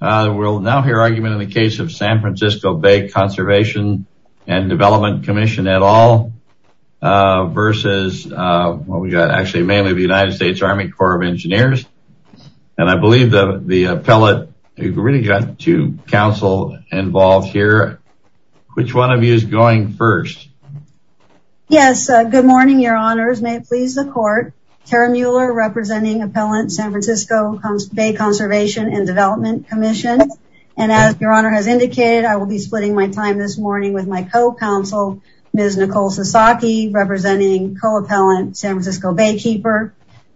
We'll now hear argument in the case of San Francisco Bay Conservation and Development Commission at all versus what we got actually mainly the United States Army Corps of Engineers and I believe the the appellate really got to counsel involved here. Which one of you is going first? Yes good morning your honors may it please the court Tara Mueller representing appellant San Francisco Bay Conservation and Development Commission and as your honor has indicated I will be splitting my time this morning with my co-counsel Ms. Nicole Sasaki representing co-appellant San Francisco Baykeeper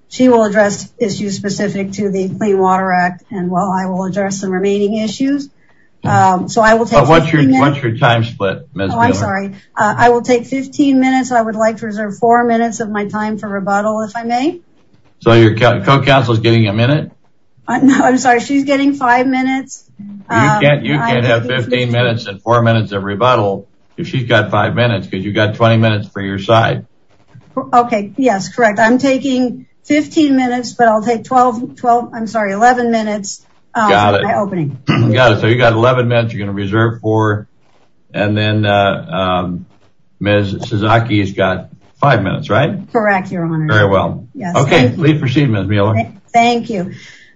she will address issues specific to the Clean Water Act and well I will address some remaining issues. So I will take 15 minutes. What's your time split? I'm sorry I will take 15 minutes I would like to reserve four minutes of my time for rebuttal if I may. So your co-counsel is getting a minute? I'm sorry she's getting five minutes. You can't have 15 minutes and four minutes of rebuttal if she's got five minutes because you've got 20 minutes for your side. Okay yes correct I'm taking 15 minutes but I'll take 12 12 I'm sorry 11 minutes. So you got 11 minutes you're gonna reserve four and then Ms. Sasaki has got five minutes right? Correct your honor. Very well. Okay please proceed Ms. Mueller. Thank you.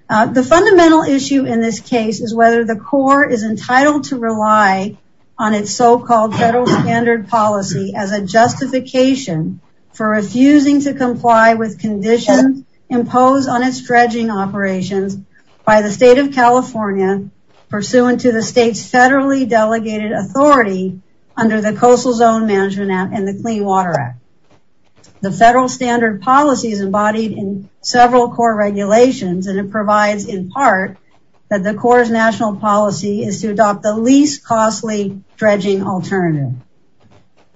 The fundamental issue in this case is whether the Corps is entitled to rely on its so-called federal standard policy as a justification for refusing to comply with conditions imposed on its dredging operations by the state of California pursuant to the state's federally delegated authority under the Coastal Zone Management Act. The federal standard policy is embodied in several Corps regulations and it provides in part that the Corps' national policy is to adopt the least costly dredging alternative.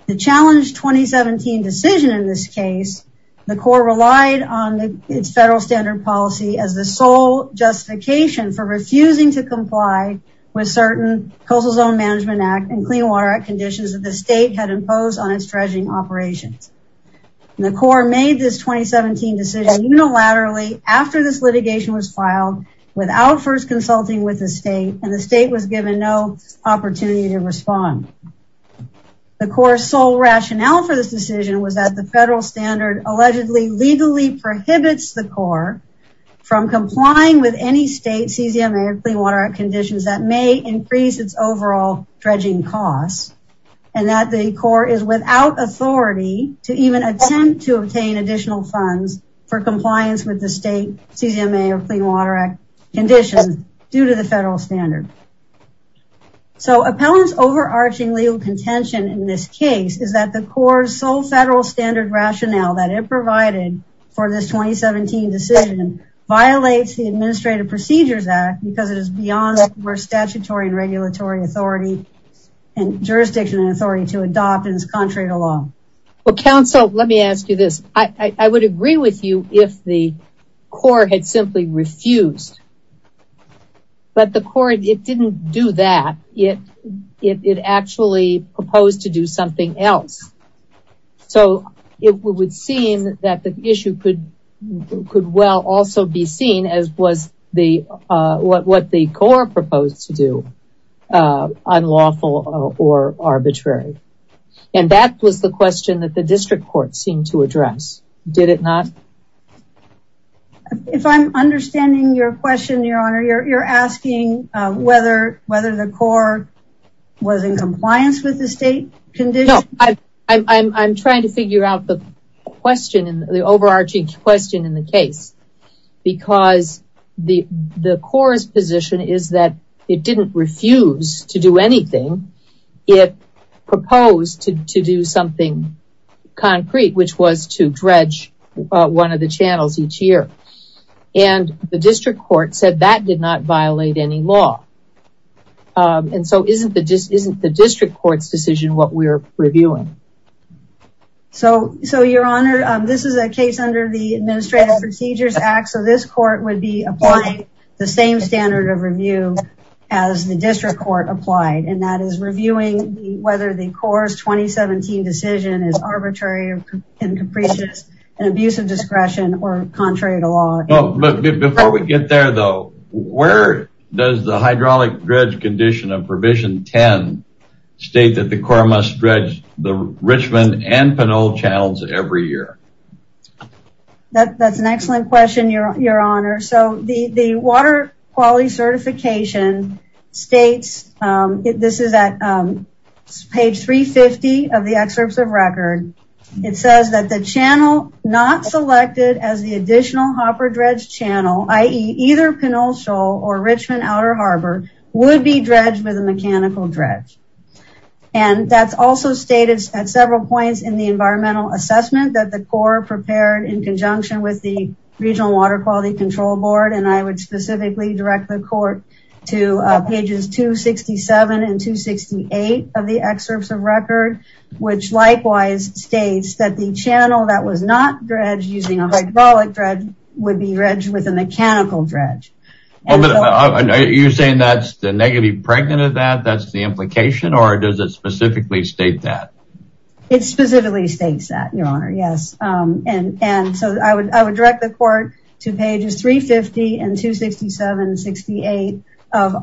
The challenge 2017 decision in this case the Corps relied on its federal standard policy as the sole justification for refusing to comply with certain Coastal Zone Management Act and Clean Water Act the Corps made this 2017 decision unilaterally after this litigation was filed without first consulting with the state and the state was given no opportunity to respond. The Corps sole rationale for this decision was that the federal standard allegedly legally prohibits the Corps from complying with any state CZM or Clean Water Act conditions that may increase its overall dredging costs and that the Corps is without authority to even attempt to obtain additional funds for compliance with the state CZM or Clean Water Act conditions due to the federal standard. So appellants overarching legal contention in this case is that the Corps sole federal standard rationale that it provided for this 2017 decision violates the Administrative Procedures Act because it is beyond our statutory and regulatory authority and jurisdiction and authority to adopt in this contrary to law. Well counsel let me ask you this I would agree with you if the Corps had simply refused but the Corps it didn't do that yet it actually proposed to do something else so it would seem that the what the Corps proposed to do unlawful or arbitrary and that was the question that the district court seemed to address did it not? If I'm understanding your question your honor you're asking whether whether the Corps was in compliance with the state condition? No I'm trying to figure out the question the overarching question in the case because the the Corps position is that it didn't refuse to do anything it proposed to do something concrete which was to dredge one of the channels each year and the district court said that did not violate any law and so isn't the district court's decision what we're reviewing? So your honor this is a case under the Administrative Procedures Act so this court would be applying the same standard of review as the district court applied and that is reviewing whether the Corps 2017 decision is arbitrary and capricious and abuse of discretion or contrary to law. Before we get there though where does the hydraulic dredge condition of provision 10 state that the Corps must dredge the Richmond and Pinole channels every year? That's an excellent question your honor so the the water quality certification states this is at page 350 of the excerpts of record it says that the channel not selected as the additional hopper dredge channel ie either Pinole Shoal or Richmond Outer Harbor would be dredged with a mechanical dredge and that's also stated at several points in the environmental assessment that the Corps prepared in conjunction with the Regional Water Quality Control Board and I would specifically direct the court to pages 267 and 268 of the excerpts of record which likewise states that the channel that was not dredged using a hydraulic dredge would be dredged with a mechanical dredge. You're saying that's the negative pregnant of that that's the implication or does it specifically state that? It specifically states that your honor yes and and so I would I would direct the court to pages 350 and 267 68 of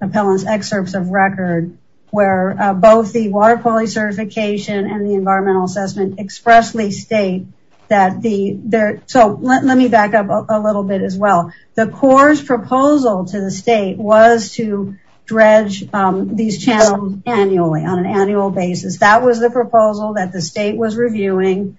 appellants excerpts of record where both the water quality certification and the there so let me back up a little bit as well the Corps proposal to the state was to dredge these channels annually on an annual basis that was the proposal that the state was reviewing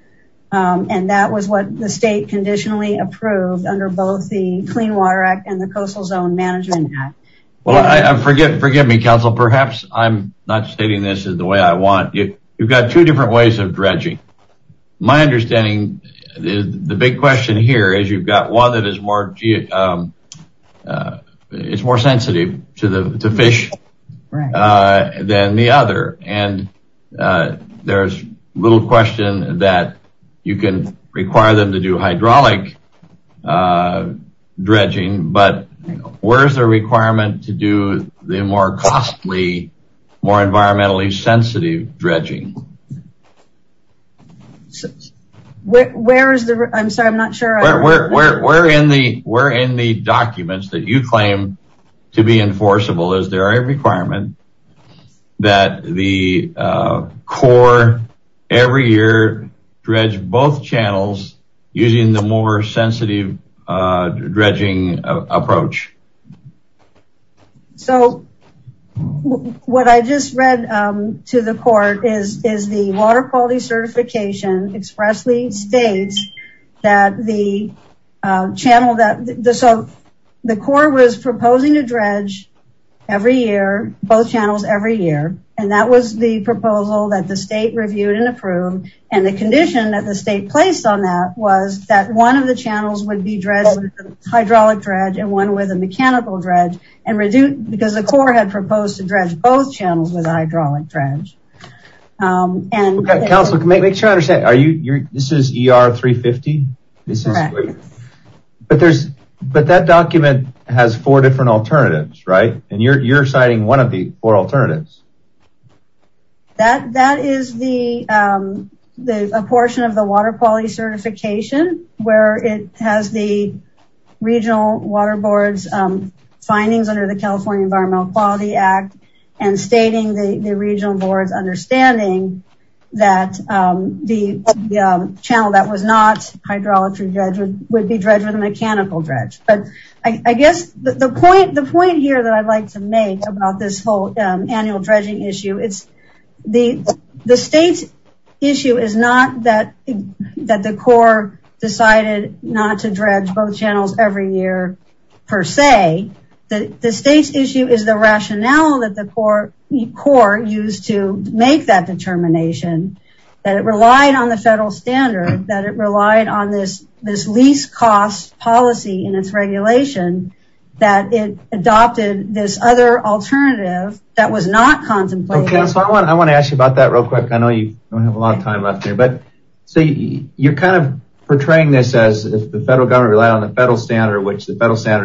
and that was what the state conditionally approved under both the Clean Water Act and the Coastal Zone Management Act. Well I forget forgive me counsel perhaps I'm not stating this is the way I want you you've got two different ways of dredging. My understanding is the big question here is you've got one that is more it's more sensitive to the fish than the other and there's little question that you can require them to do hydraulic dredging but where's the requirement to do the more costly more sensitive dredging. Where is the I'm sorry I'm not sure. Where in the where in the documents that you claim to be enforceable is there a requirement that the Corps every year dredge both channels using the more sensitive dredging approach. So what I just read to the court is is the water quality certification expressly states that the channel that the so the Corps was proposing a dredge every year both channels every year and that was the proposal that the state reviewed and approved and the condition that the state placed on that was that one of the channels would be dredged hydraulic dredge and one with a mechanical dredge and reduce because the Corps had proposed to dredge both channels with hydraulic dredge and counsel can make sure I understand are you you're this is ER 350 this is but there's but that document has four different alternatives right and you're citing one of the four alternatives. That is the portion of the water quality certification where it has the regional water boards findings under the California Environmental Quality Act and stating the regional boards understanding that the channel that was not hydraulic dredge would be dredged with a mechanical dredge but I guess the point the point here that I'd like to make about this whole annual dredging issue it's the the state's issue is not that that the Corps decided not to dredge both channels every year per se that the state's issue is the rationale that the Corps used to make that determination that it relied on the federal standard that it relied on this this lease cost policy in its regulation that it adopted this other alternative that was not contemplated. I want to ask you about that real quick I know you don't have a lot of time left here but see you're kind of portraying this as the federal standard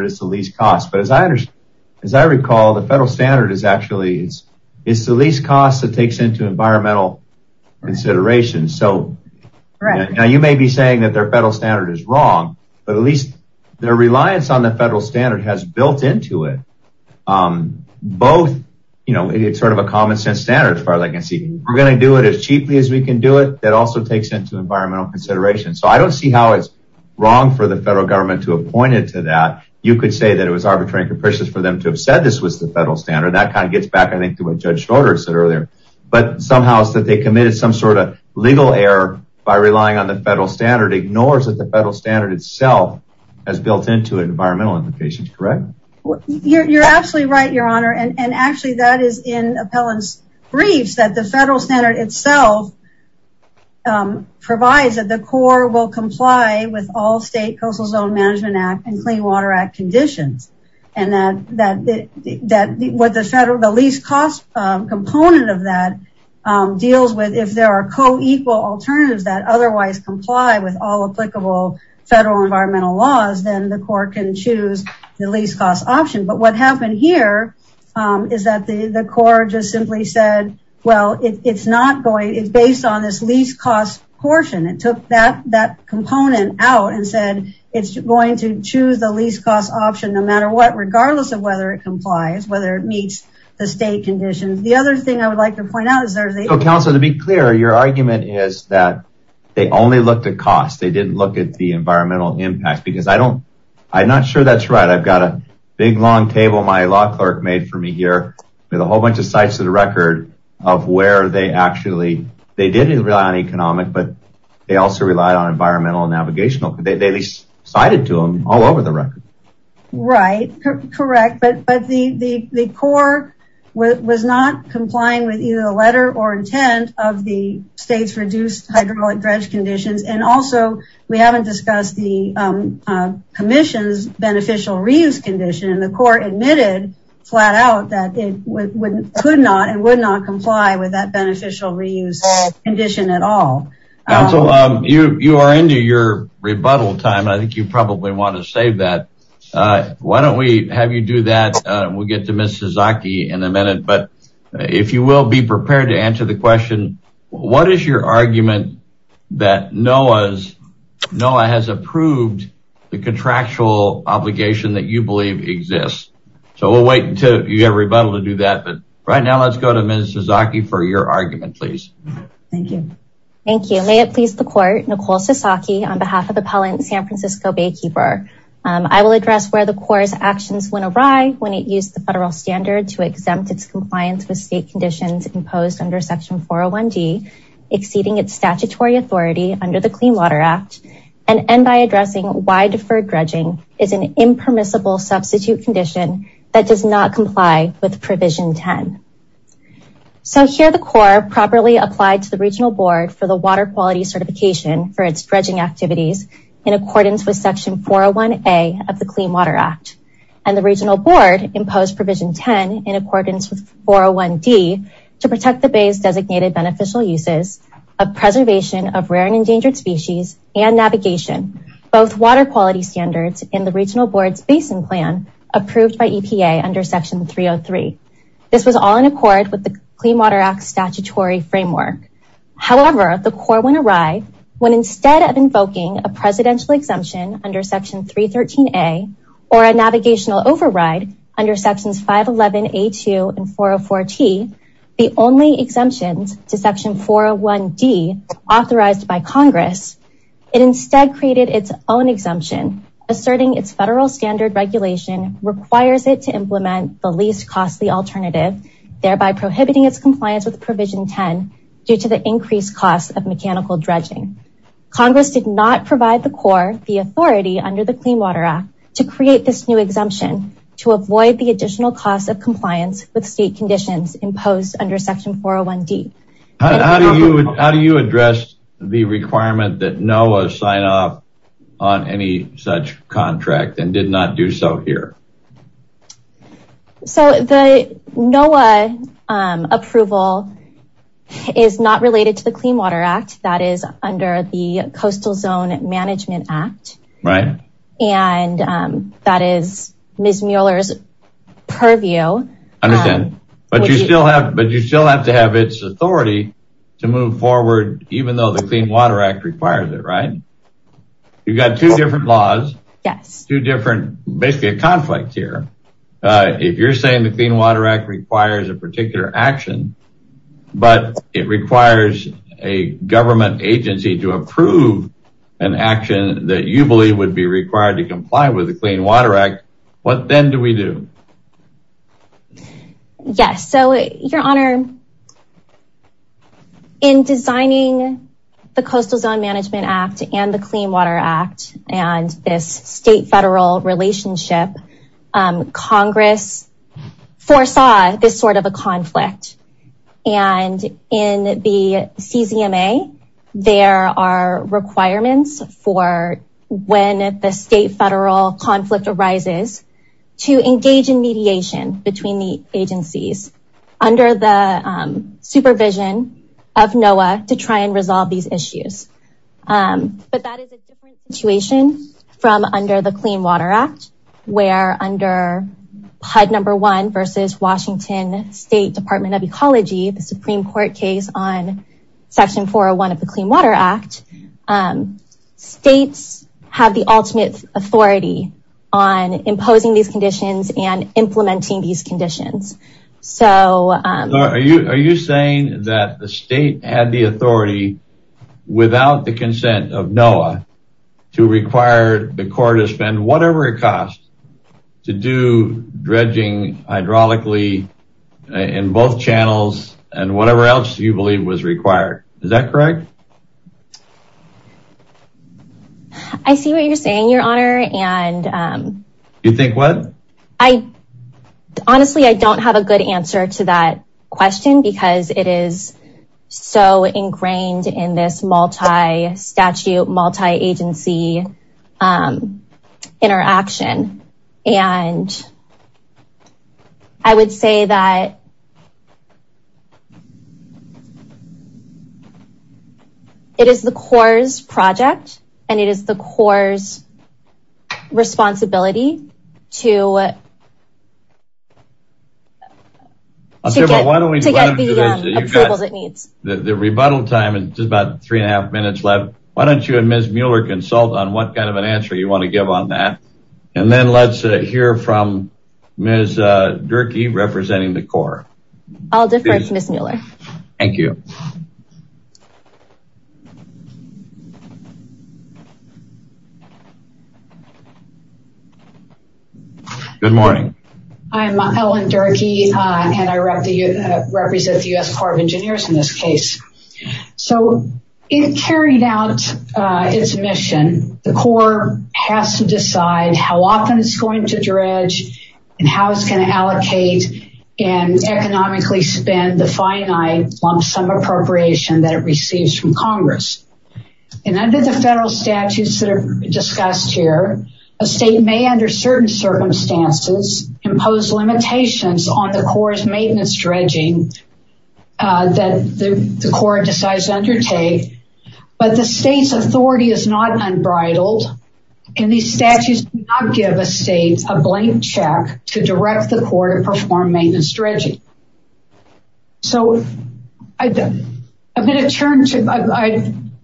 is the least cost but as I understand as I recall the federal standard is actually it's it's the least cost that takes into environmental consideration so right now you may be saying that their federal standard is wrong but at least their reliance on the federal standard has built into it both you know it's sort of a common-sense standard as far as I can see we're gonna do it as cheaply as we can do it that also takes into environmental consideration so I don't see how it's wrong for the federal government to point it to that you could say that it was arbitrary and capricious for them to have said this was the federal standard that kind of gets back I think to what Judge Schroeder said earlier but somehow is that they committed some sort of legal error by relying on the federal standard ignores that the federal standard itself has built into it environmental implications correct you're absolutely right your honor and actually that is in appellants briefs that the federal standard itself provides that the Corps will comply with all state Coastal Zone Management Act and Clean Water Act conditions and that that that what the federal the least cost component of that deals with if there are co-equal alternatives that otherwise comply with all applicable federal environmental laws then the court can choose the least cost option but what happened here is that the the core just simply said well it's not going it's on this least cost portion it took that that component out and said it's going to choose the least cost option no matter what regardless of whether it complies whether it meets the state conditions the other thing I would like to point out is there's a council to be clear your argument is that they only looked at cost they didn't look at the environmental impact because I don't I'm not sure that's right I've got a big long table my law clerk made for me here with a whole bunch of sites of the record of where they actually they didn't rely on economic but they also relied on environmental navigational they cited to them all over the record right correct but but the the Corps was not complying with either the letter or intent of the state's reduced hydraulic dredge conditions and also we haven't discussed the Commission's beneficial reuse condition and the court admitted flat out that they wouldn't could not and would not comply with that beneficial reuse condition at all so you you are into your rebuttal time I think you probably want to save that why don't we have you do that we'll get to miss Sasaki in a minute but if you will be prepared to answer the question what is your argument that Noah's Noah has approved the contractual obligation that you believe exists so we'll wait until you get a rebuttal to do that but right now let's go to miss Sasaki for your argument please thank you thank you may it please the court Nicole Sasaki on behalf of appellant San Francisco Baykeeper I will address where the Corps actions went awry when it used the federal standard to exempt its compliance with state conditions imposed under section 401 D exceeding its addressing why deferred dredging is an impermissible substitute condition that does not comply with provision 10 so here the Corps properly applied to the regional board for the water quality certification for its dredging activities in accordance with section 401 a of the Clean Water Act and the regional board imposed provision 10 in accordance with 401 D to protect the species and navigation both water quality standards in the regional boards basin plan approved by EPA under section 303 this was all in accord with the Clean Water Act statutory framework however the Corps went awry when instead of invoking a presidential exemption under section 313 a or a navigational override under sections 511 a 2 and 404 T the only exemptions to instead created its own exemption asserting its federal standard regulation requires it to implement the least costly alternative thereby prohibiting its compliance with provision 10 due to the increased cost of mechanical dredging Congress did not provide the Corps the authority under the Clean Water Act to create this new exemption to avoid the additional cost of compliance with state conditions imposed under section 401 D how do you address the requirement that NOAA sign off on any such contract and did not do so here so the NOAA approval is not related to the Clean Water Act that is under the Coastal Zone Management Act right and that is Ms. Mueller's purview understand but you still have but you still have to have its authority to move forward even though the Clean Water Act requires it right you've got two different laws yes two different basically a conflict here if you're saying the Clean Water Act requires a particular action but it requires a government agency to approve an action that you believe would be required to designing the Coastal Zone Management Act and the Clean Water Act and this state-federal relationship Congress foresaw this sort of a conflict and in the CZMA there are requirements for when the state-federal conflict arises to to try and resolve these issues but that is a situation from under the Clean Water Act where under HUD number one versus Washington State Department of Ecology the Supreme Court case on section 401 of the Clean Water Act states have the ultimate authority on imposing these conditions and implementing these without the consent of NOAA to require the court to spend whatever it costs to do dredging hydraulically in both channels and whatever else you believe was required is that correct I see what you're saying your honor and you think what I honestly I don't have a good answer to that question because it is so ingrained in this multi-statute multi-agency interaction and I would say that it is the Corps' project and it is the Corps' responsibility to get the approvals it needs. The rebuttal time is about three and a half minutes left why don't you and Ms. Mueller consult on what kind of an answer you want to give on that and then let's hear from Ms. Durkee representing the Corps. I'll defer to Ms. Mueller. Thank you. Good morning I'm Ellen Durkee and I represent the U.S. Corps of Engineers in this case so it carried out its mission the Corps has to decide how often it's going to dredge and how it's going to allocate and economically spend the finite lump-sum appropriation that it receives from Congress and under the federal statutes that are discussed here a state may under certain circumstances impose limitations on the Corps' maintenance dredging that the Corps decides to undertake but the state's authority is not unbridled and these statutes do not give a state a blank check to direct the Corps to perform maintenance dredging. I'd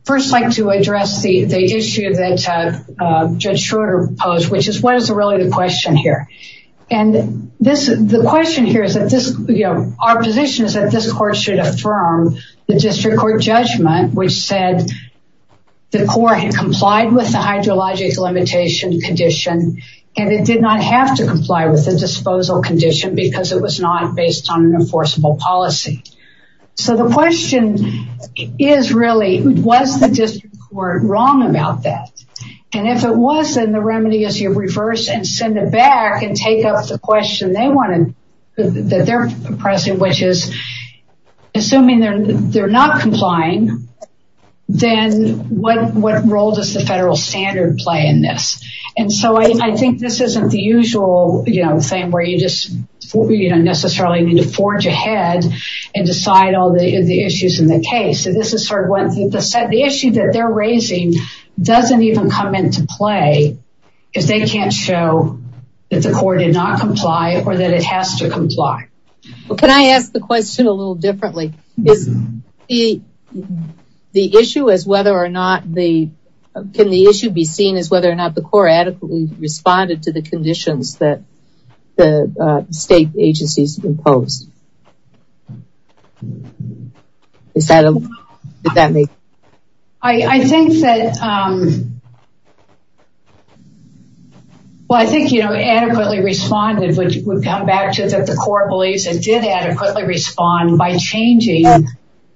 first like to address the issue that Judge Schroeder posed which is what is really the question here and the question here is that our position is that this court should affirm the district court judgment which said the Corps had complied with the hydrologic limitation condition and it did not have to comply with the was not based on an enforceable policy so the question is really was the district court wrong about that and if it was then the remedy is you reverse and send it back and take up the question they wanted that they're pressing which is assuming they're not complying then what role does the federal standard play in this and so I think this isn't the usual you know necessarily need to forge ahead and decide all the issues in the case so this is sort of one thing to set the issue that they're raising doesn't even come into play because they can't show that the court did not comply or that it has to comply. Can I ask the question a little differently is the issue as whether or not the can the issue be seen as whether or not the Corps adequately responded to the conditions that the state agencies imposed. Is that a good answer? I think that well I think you know adequately responded which would come back to that the Corps believes it did adequately respond by changing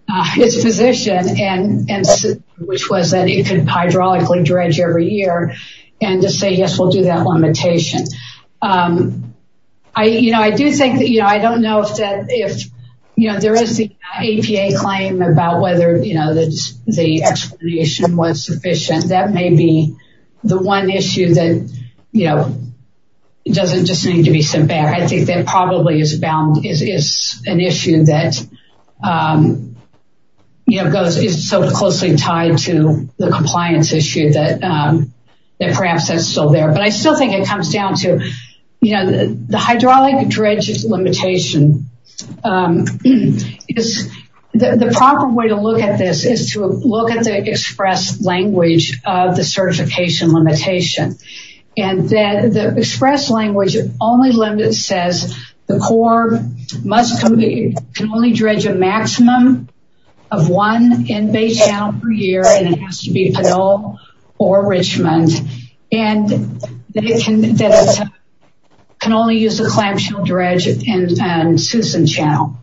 its position and and which was that it could hydraulically dredge every year and to say yes we'll do that limitation. I you know I do think that you know I don't know if that if you know there is the APA claim about whether you know that's the explanation was sufficient that may be the one issue that you know it doesn't just need to be sent back I think that probably is bound is an issue that you know goes is so closely tied to the compliance issue that that perhaps is still there but I still think it comes down to you know the hydraulic dredges limitation is the proper way to look at this is to look at the express language of the certification limitation and that the express language only limit says the Corps must compete can only dredge a maximum of one in Bay Channel per year and it has to be Pinole or Richmond and they can only use the clamshell dredge and Susan Channel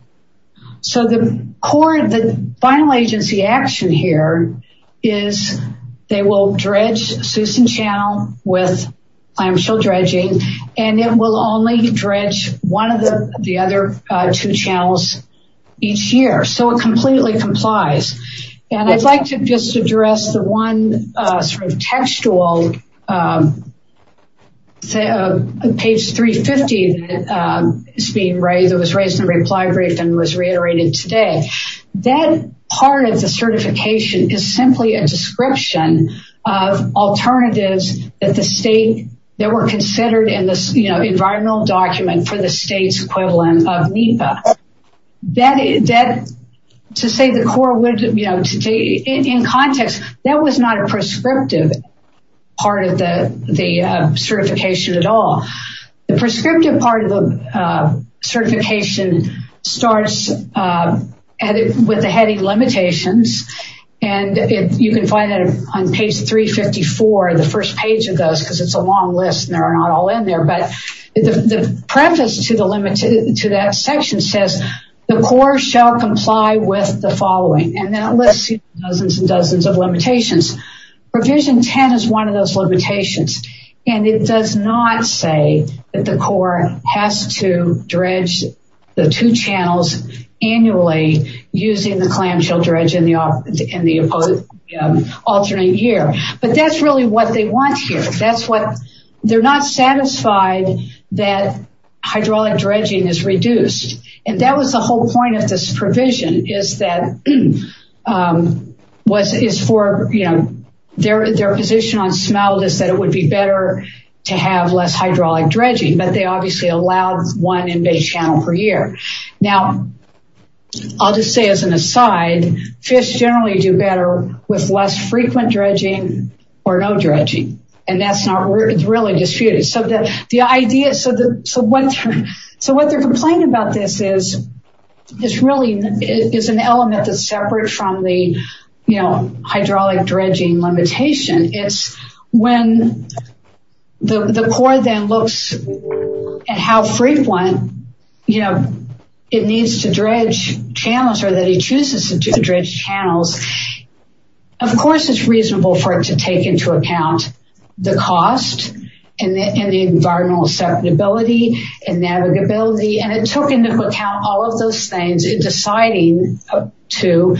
so the Corps the final agency action here is they will dredge Susan Channel with clamshell dredging and it will only dredge one of the the other two channels each year so it completely complies and I'd like to just address the one sort of textual say a page 350 it's being raised it was raised in reply brief and was reiterated today that part of the certification is simply a description of alternatives that the state that were considered in this you know environmental document for the to say the Corps would you know today in context that was not a prescriptive part of the the certification at all the prescriptive part of the certification starts with the heading limitations and if you can find that on page 354 the first page of those because it's a long list and there are not all in there but the preface to the limit to that section says the Corps shall comply with the following and that lists dozens and dozens of limitations provision 10 is one of those limitations and it does not say that the Corps has to dredge the two channels annually using the clamshell dredge in the alternate year but that's really what they want here that's what they're not satisfied that hydraulic dredging is reduced and that was the whole point of this provision is that what is for you know their their position on smell this that it would be better to have less hydraulic dredging but they obviously allowed one in Bay Channel per year now I'll just say as an aside fish generally do better with less frequent dredging or no dredging and that's not really disputed so that the idea so that so what so what they're complaining about this is this really is an element that's separate from the you know hydraulic dredging limitation it's when the Corps then looks at how frequent you know it needs to dredge channels or that he chooses to dredge channels of course it's reasonable for it to take into account the cost and the environmental susceptibility and navigability and it took into account all of those things in deciding to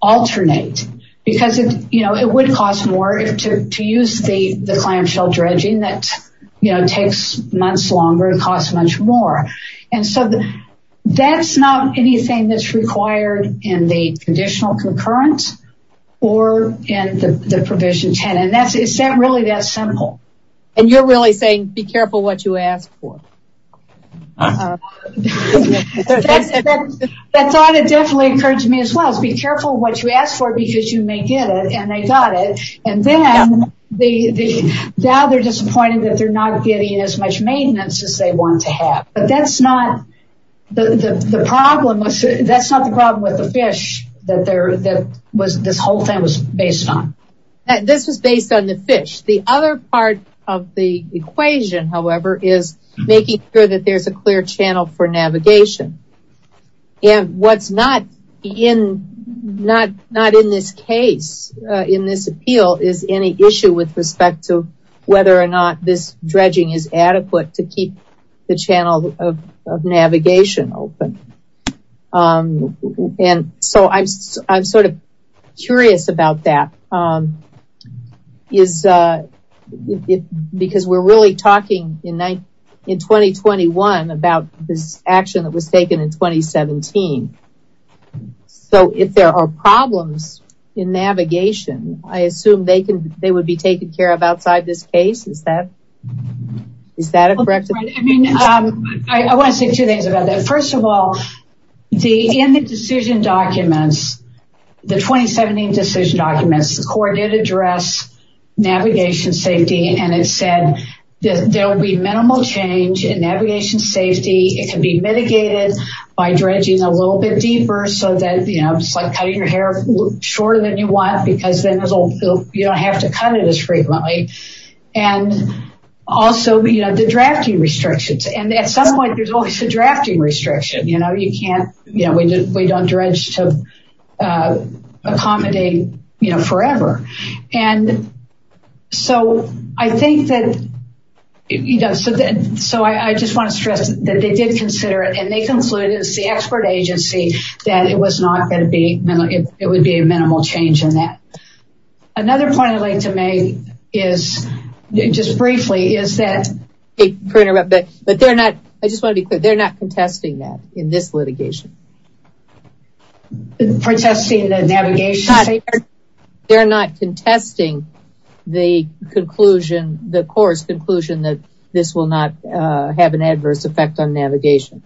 alternate because it you know it would cost more to use the the clamshell dredging that you know takes months longer and cost much more and so that's not anything that's required in the conditional concurrent or in the provision 10 and that's it's not really that simple and you're really saying be careful what you ask for that thought it definitely occurred to me as well as be careful what you ask for because you may get it and they got it and then they now they're disappointed that they're not getting as much maintenance as they want to have but that's not the problem that's not the problem with the fish that there that was this whole thing was based on and this was based on the fish the other part of the equation however is making sure that there's a clear channel for navigation and what's not in not not in this case in this appeal is any issue with respect to whether or not this dredging is adequate to keep the channel of navigation open and so I'm sort of curious about that is it because we're really talking in night in 2021 about this action that was taken in 2017 so if there are problems in navigation I assume they can they would be taken care of outside this case is that is that a correct I mean I want to say two things about that first of all the in the decision documents the 2017 decision documents the court did address navigation safety and it said there'll be minimal change in navigation safety it can be mitigated by dredging a little bit deeper so that you know it's like cutting your hair shorter than you want because then you don't have to cut it as frequently and also you know the drafting restrictions and at some point there's always a drafting restriction you know you can't you know we don't dredge to accommodate you know forever and so I think that you know so then so I just want to stress that they did consider it and they concluded it's the expert agency that it was not going to it would be a minimal change in that another point I'd like to make is just briefly is that a printer but but they're not I just want to be clear they're not contesting that in this litigation protesting the navigation they're not contesting the conclusion the course conclusion that this will not have an adverse effect on navigation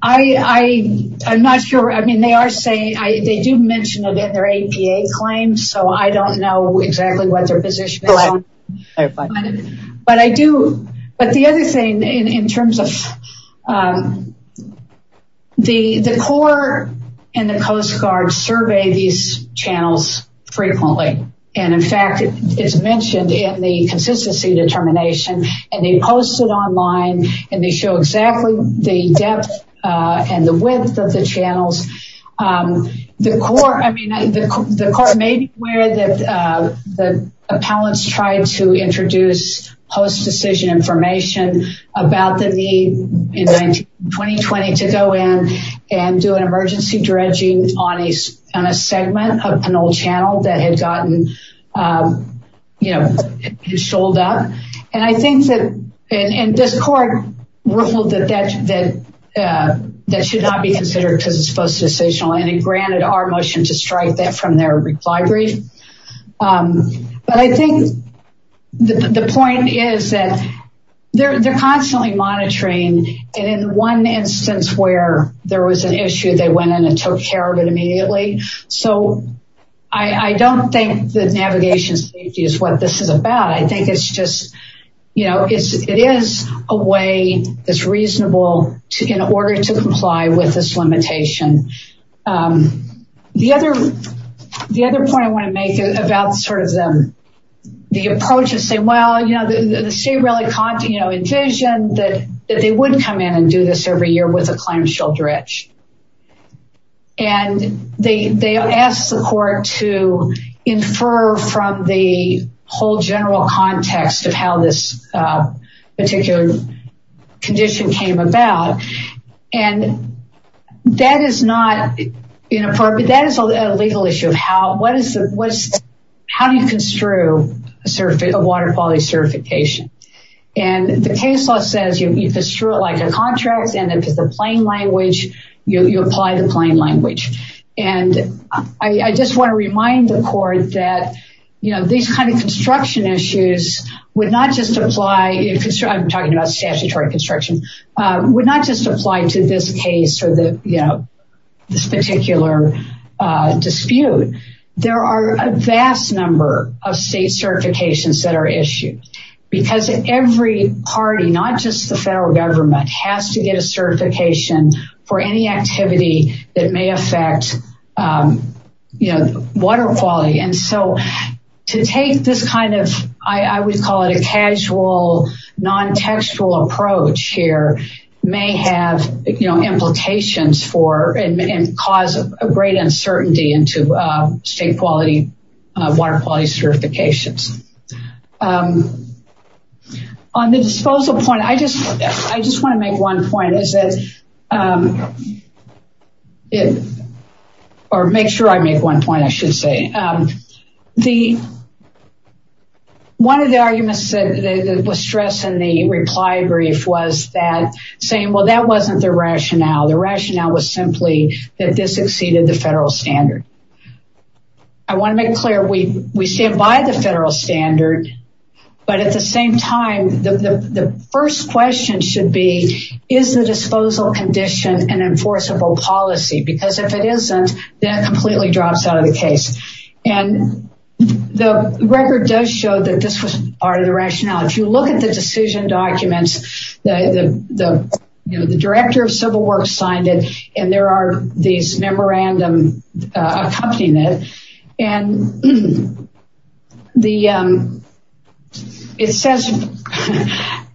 I I'm not sure I mean they are saying I they do mention it in their APA claims so I don't know exactly what their position but I do but the other thing in terms of the the Corps and the Coast Guard survey these channels frequently and in fact it's mentioned in the posted online and they show exactly the depth and the width of the channels the core I mean the court may be aware that the appellants tried to introduce post decision information about the need in 1920 to go in and do an emergency dredging on a on a segment of an old channel that had gotten you know you and I think that in this court ruled that that that that should not be considered because it's post decisional and it granted our motion to strike that from their reply brief but I think the point is that they're constantly monitoring and in one instance where there was an issue they went in and took care of it immediately so I I don't think that navigation safety is what this is about I think it's just you know it is a way that's reasonable to in order to comply with this limitation the other the other point I want to make about sort of them the approach is say well you know the state really can't you know envision that that they wouldn't come in and do this every year with a whole general context of how this particular condition came about and that is not in a part but that is a legal issue of how what is it what's how do you construe a surface of water quality certification and the case law says you construe it like a contract and if it's a plain language you apply the plain language and I just want to remind the court that you know these kind of construction issues would not just apply if it's true I'm talking about statutory construction would not just apply to this case or the you know this particular dispute there are a vast number of state certifications that are issued because every party not just the federal government has to get a certification for any activity that may affect you know water quality and so to take this kind of I would call it a casual non-textual approach here may have you know implications for and cause a great uncertainty into state quality water quality certifications on the disposal point I just I just want to make one point is it or make sure I make one point I should say the one of the arguments that was stressed in the reply brief was that saying well that wasn't the rationale the rationale was simply that this exceeded the federal standard I want to make clear we we stand by the federal standard but at the same time the first question should be is the disposal condition an enforceable policy because if it isn't that completely drops out of the case and the record does show that this was part of the rationale if you look at the decision documents the you know the director of civil works signed it and there are these memorandum accompanying it and the it says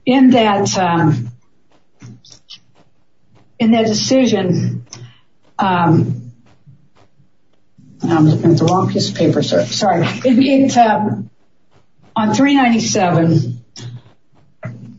in that in that decision on 397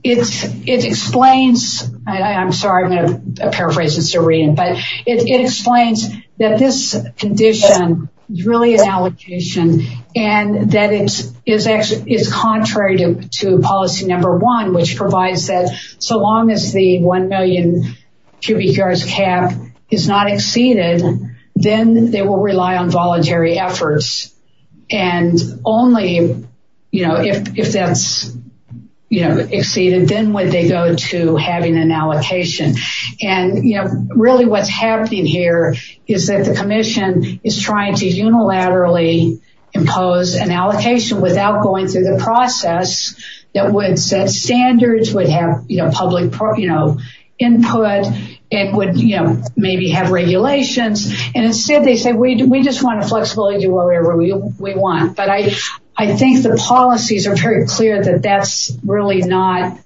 it's it explains I'm sorry I'm going to paraphrase it's a but it explains that this condition is really an allocation and that it is actually is contrary to policy number one which provides that so long as the 1 million cubic yards cap is not exceeded then they will rely on voluntary efforts and only you know if that's you know exceeded then when they go to having an allocation and you know really what's happening here is that the Commission is trying to unilaterally impose an allocation without going through the process that would set standards would have you know public you know input it would you know maybe have regulations and instead they say we do we just want to flexibility wherever we want but I I think the policies are very clear that that's really not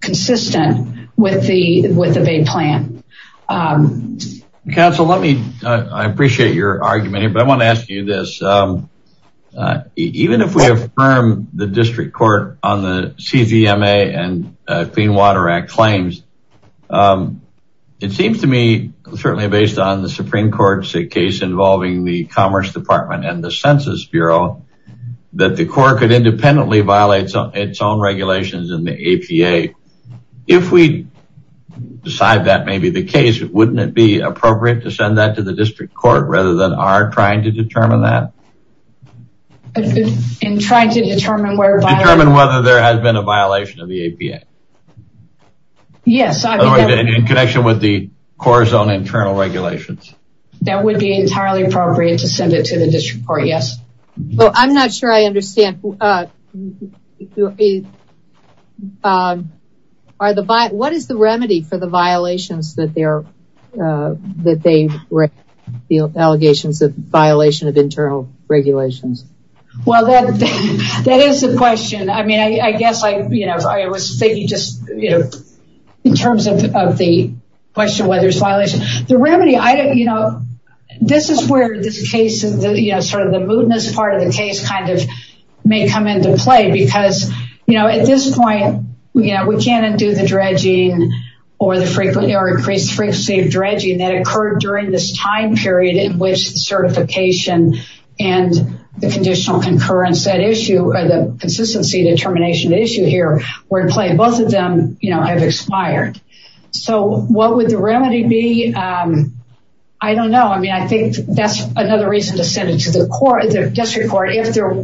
consistent with the with the big plan council let me I appreciate your argument but I want to ask you this even if we affirm the district court on the CVMA and Clean Water Act claims it seems to me certainly based on the Supreme Court's a case involving the Commerce Department and the Census Bureau that the court could independently violate some its own regulations in the APA if we decide that may be the case it wouldn't it be appropriate to send that to the district court rather than are trying to determine that in trying to determine whether there has been a violation of the APA yes in connection with the core zone internal regulations that would be entirely appropriate to send it to the district court yes well I'm not sure I understand are the by what is the remedy for the violations that they're that they feel allegations of violation of internal regulations well that that is the question I mean I guess I you know I was thinking just you the remedy I don't you know this is where this case is you know sort of the moodness part of the case kind of may come into play because you know at this point yeah we can't undo the dredging or the frequently or increased frequency of dredging that occurred during this time period in which the certification and the conditional concurrence that issue or the consistency determination issue here we're playing both of them you know have expired so what would the remedy be I don't know I mean I think that's another reason to send it to the court the district court if there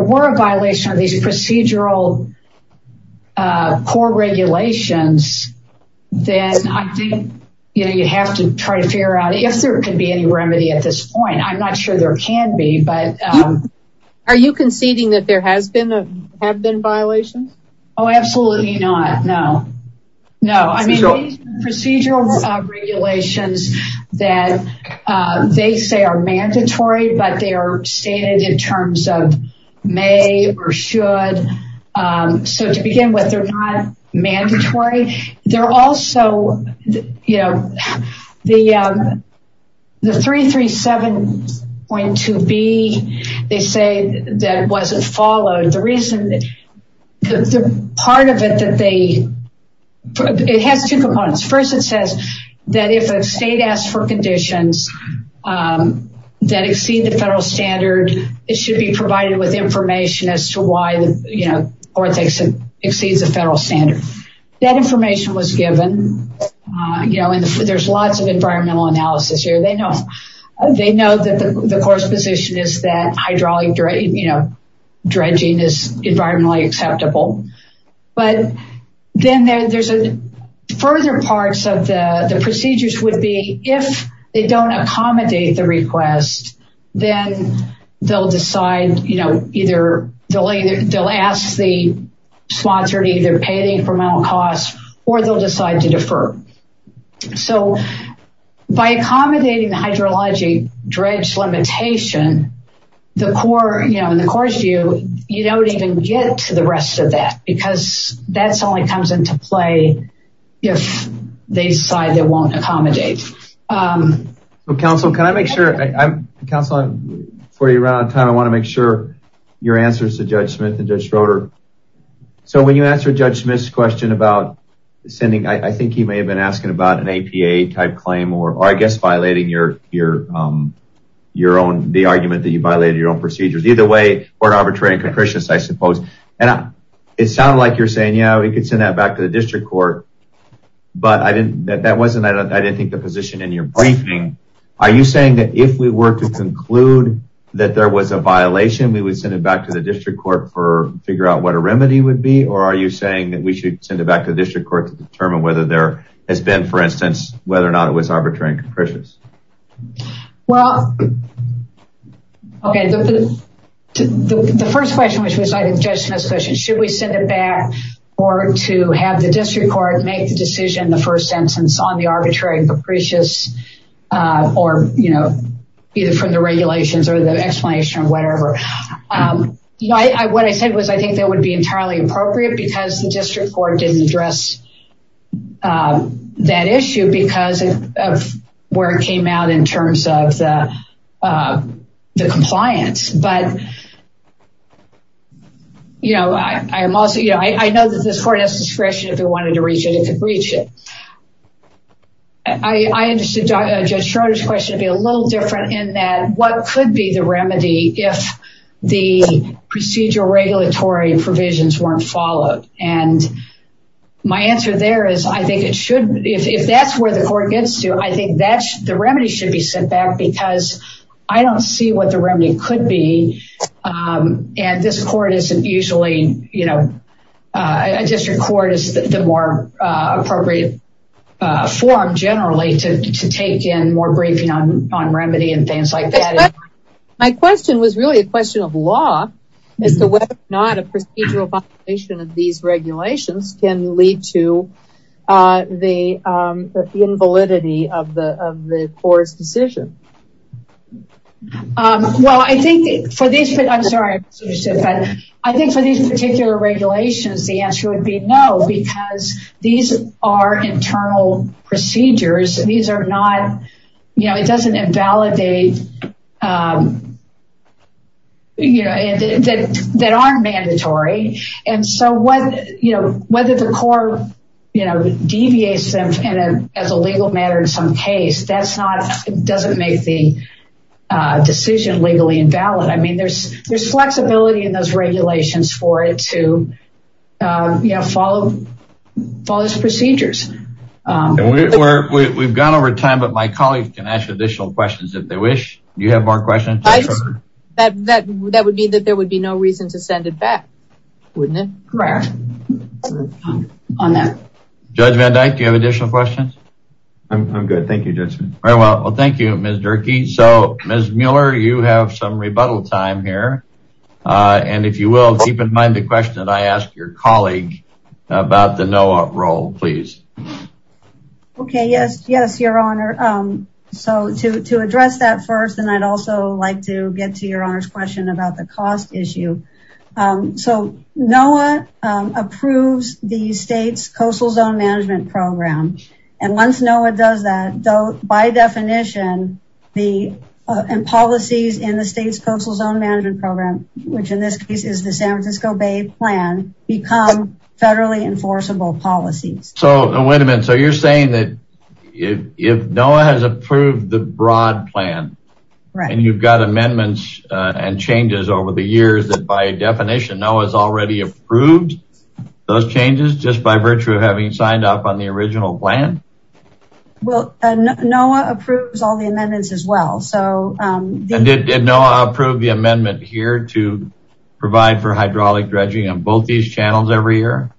were a violation of these procedural core regulations then I think you know you have to try to figure out if there could be any remedy at this point I'm not sure there can be but are you conceding that there has been a have been violations oh absolutely not no no I mean procedural regulations that they say are mandatory but they are stated in terms of may or should so to begin with they're not mandatory they're also you know the the 337 point to be they say that wasn't followed the reason that the part of it that they it has two components first it says that if a state asks for conditions that exceed the federal standard it should be provided with information as to why the you know or thinks it exceeds a federal standard that information was given you know and there's lots of environmental analysis here they know they know that the course position is that hydraulic you know dredging is environmentally acceptable but then there's a further parts of the the procedures would be if they don't accommodate the request then they'll decide you know either delay they'll ask the sponsor to either pay the costs or they'll decide to defer so by accommodating the hydrologic dredge limitation the core you know in the course view you don't even get to the rest of that because that's only comes into play if they decide they won't accommodate the council can I make sure I'm counseling for you around time I want to make sure your answers to judge Smith and judge Schroeder so when you answer judge Smith's question about sending I think he may have been asking about an APA type claim or I guess violating your your your own the argument that you violated your own procedures either way or an arbitrary and capricious I suppose and it sounded like you're saying yeah we could send that back to the district court but I didn't that wasn't I don't I didn't think the position in your briefing are you saying that if we were to conclude that there was a violation we would send it back to the district court for figure out what a remedy would be or are you saying that we should send it back to the district court to determine whether there has been for instance whether or not it was arbitrary and capricious well okay the first question which was I didn't judge Smith's question should we send it back or to have the district court make the decision the first sentence on the arbitrary capricious or you know either from the regulations or the explanation or whatever you know I what I said was I think that would be entirely appropriate because the district court didn't address that issue because of where it came out in terms of the compliance but you know I am also you know I know that this court has discretion if it wanted to reach it it could reach it I understood judge Schroeder's question to be a little different in that what could be the regulatory provisions weren't followed and my answer there is I think it should if that's where the court gets to I think that's the remedy should be sent back because I don't see what the remedy could be and this court isn't usually you know a district court is the more appropriate form generally to take in more briefing on on remedy and things like that my question was really a not a procedural violation of these regulations can lead to the invalidity of the of the court's decision well I think for this but I'm sorry I think for these particular regulations the answer would be no because these are internal procedures these are not you know it doesn't invalidate you know that that aren't mandatory and so what you know whether the court you know deviates them and as a legal matter in some case that's not it doesn't make the decision legally invalid I mean there's there's flexibility in those regulations for it to you know follow procedures we've gone over time but my colleagues can ask additional questions if they wish you have more questions that that would be that there would be no reason to send it back wouldn't it correct on that judge Van Dyke you have additional questions I'm good thank you just very well well thank you miss jerky so miss Mueller you have some rebuttal time here and if you will keep in mind the question that I asked your colleague about the NOAA role please okay yes yes your honor so to address that first and I'd also like to get to your honors question about the cost issue so NOAA approves the state's coastal zone management program and once NOAA does that though by definition the policies in the state's coastal zone management program which in this case is the San Francisco Bay plan become federally enforceable policies so wait a minute so you're saying that if NOAA has approved the broad plan right and you've got amendments and changes over the years that by definition NOAA has already approved those changes just by virtue of having signed up on the original plan well NOAA approves all the amendments as well so did NOAA approve the amendment here to provide for hydraulic dredging on both these channels every year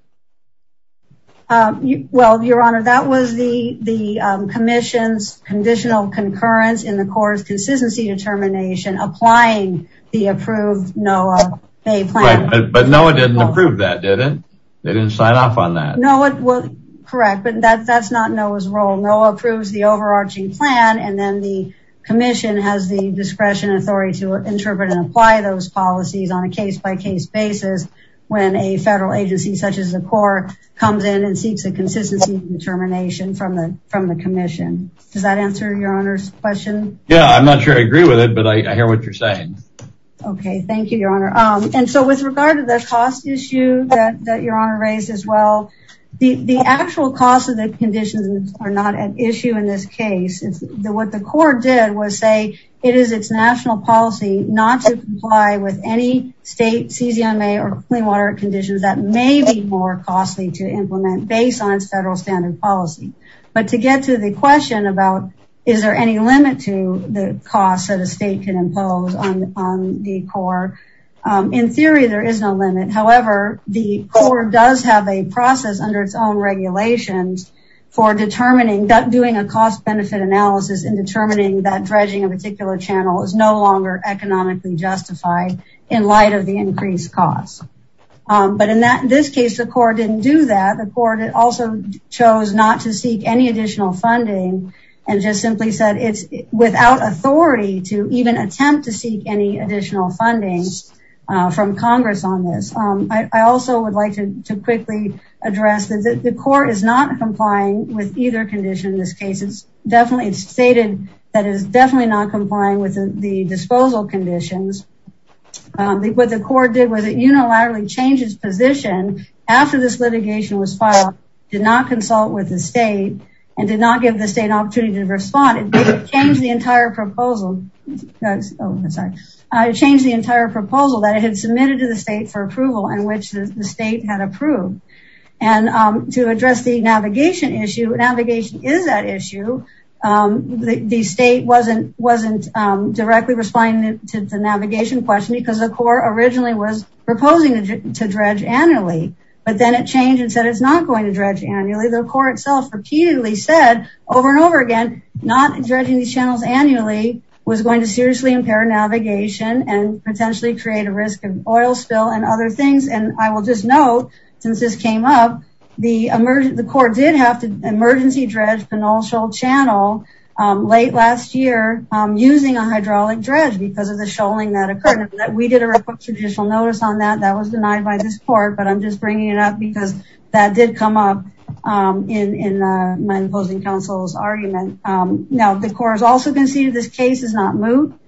um well your honor that was the the commission's conditional concurrence in the court's consistency determination applying the approved NOAA may plan but NOAA didn't approve that did it they didn't sign off on that no it was correct but that that's not NOAA's role NOAA approves the overarching plan and then the commission has the discretion and authority to interpret and apply those policies on a case-by-case basis when a federal agency such as the court comes in and seeks a consistency determination from the from the commission does that answer your honor's question yeah I'm not sure I agree with it but I hear what you're saying okay thank you your honor um and so with regard to the cost issue that conditions are not an issue in this case what the court did was say it is its national policy not to comply with any state ccma or clean water conditions that may be more costly to implement based on its federal standard policy but to get to the question about is there any limit to the cost that a state can impose on on the core in theory there is no limit however the court does have a process under its own regulations for determining that doing a cost-benefit analysis in determining that dredging a particular channel is no longer economically justified in light of the increased cost but in that this case the court didn't do that the court also chose not to seek any additional funding and just simply said it's without authority to even attempt to seek any additional funding uh from congress on this um I also would like to quickly address that the court is not complying with either condition in this case it's definitely it's stated that it's definitely not complying with the disposal conditions um what the court did was it unilaterally changed its position after this litigation was filed did not consult with the state and did not give the state an opportunity to respond it changed the entire proposal I changed the entire proposal that it had submitted to the state for approval in which the state had approved and um to address the navigation issue navigation is that issue um the state wasn't wasn't um directly responding to the navigation question because the core originally was proposing to dredge annually but then it changed and said it's not going to dredge annually the court itself repeatedly said over and over again not dredging these channels annually was going to seriously impair navigation and potentially create a risk of oil spill and other things and I will just note since this came up the emergent the court did have to emergency dredge penultial channel um late last year um using a hydraulic dredge because of the shoaling that occurred that we did a request judicial notice on that that was denied by this court but I'm just bringing it up because that did come up um in in my opposing counsel's argument um now the case has not moved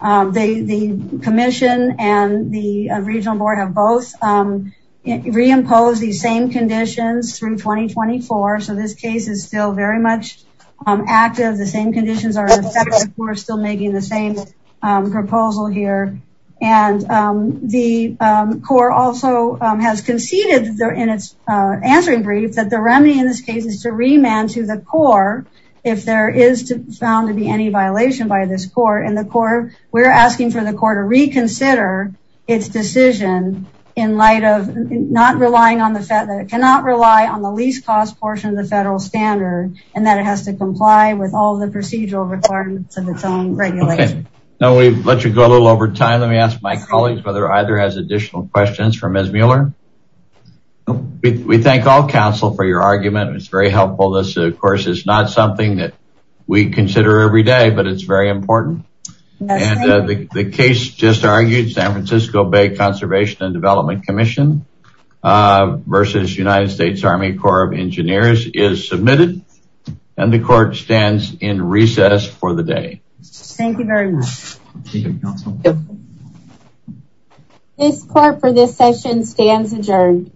um they the commission and the regional board have both um reimposed these same conditions through 2024 so this case is still very much um active the same conditions are in effect we're still making the same proposal here and um the um core also um has conceded there in its uh answering brief that the remedy in this case is to remand to the core if there is to found to be any violation by this court and the core we're asking for the court to reconsider its decision in light of not relying on the fact that it cannot rely on the least cost portion of the federal standard and that it has to comply with all the procedural requirements of its own regulation now we've let you go a little over time let me ask my colleagues whether either has additional questions for ms muller we thank all counsel for your argument it's not something that we consider every day but it's very important and the case just argued san francisco bay conservation and development commission uh versus united states army corps of engineers is submitted and the court stands in recess for the day thank you very much this court for this session stands adjourned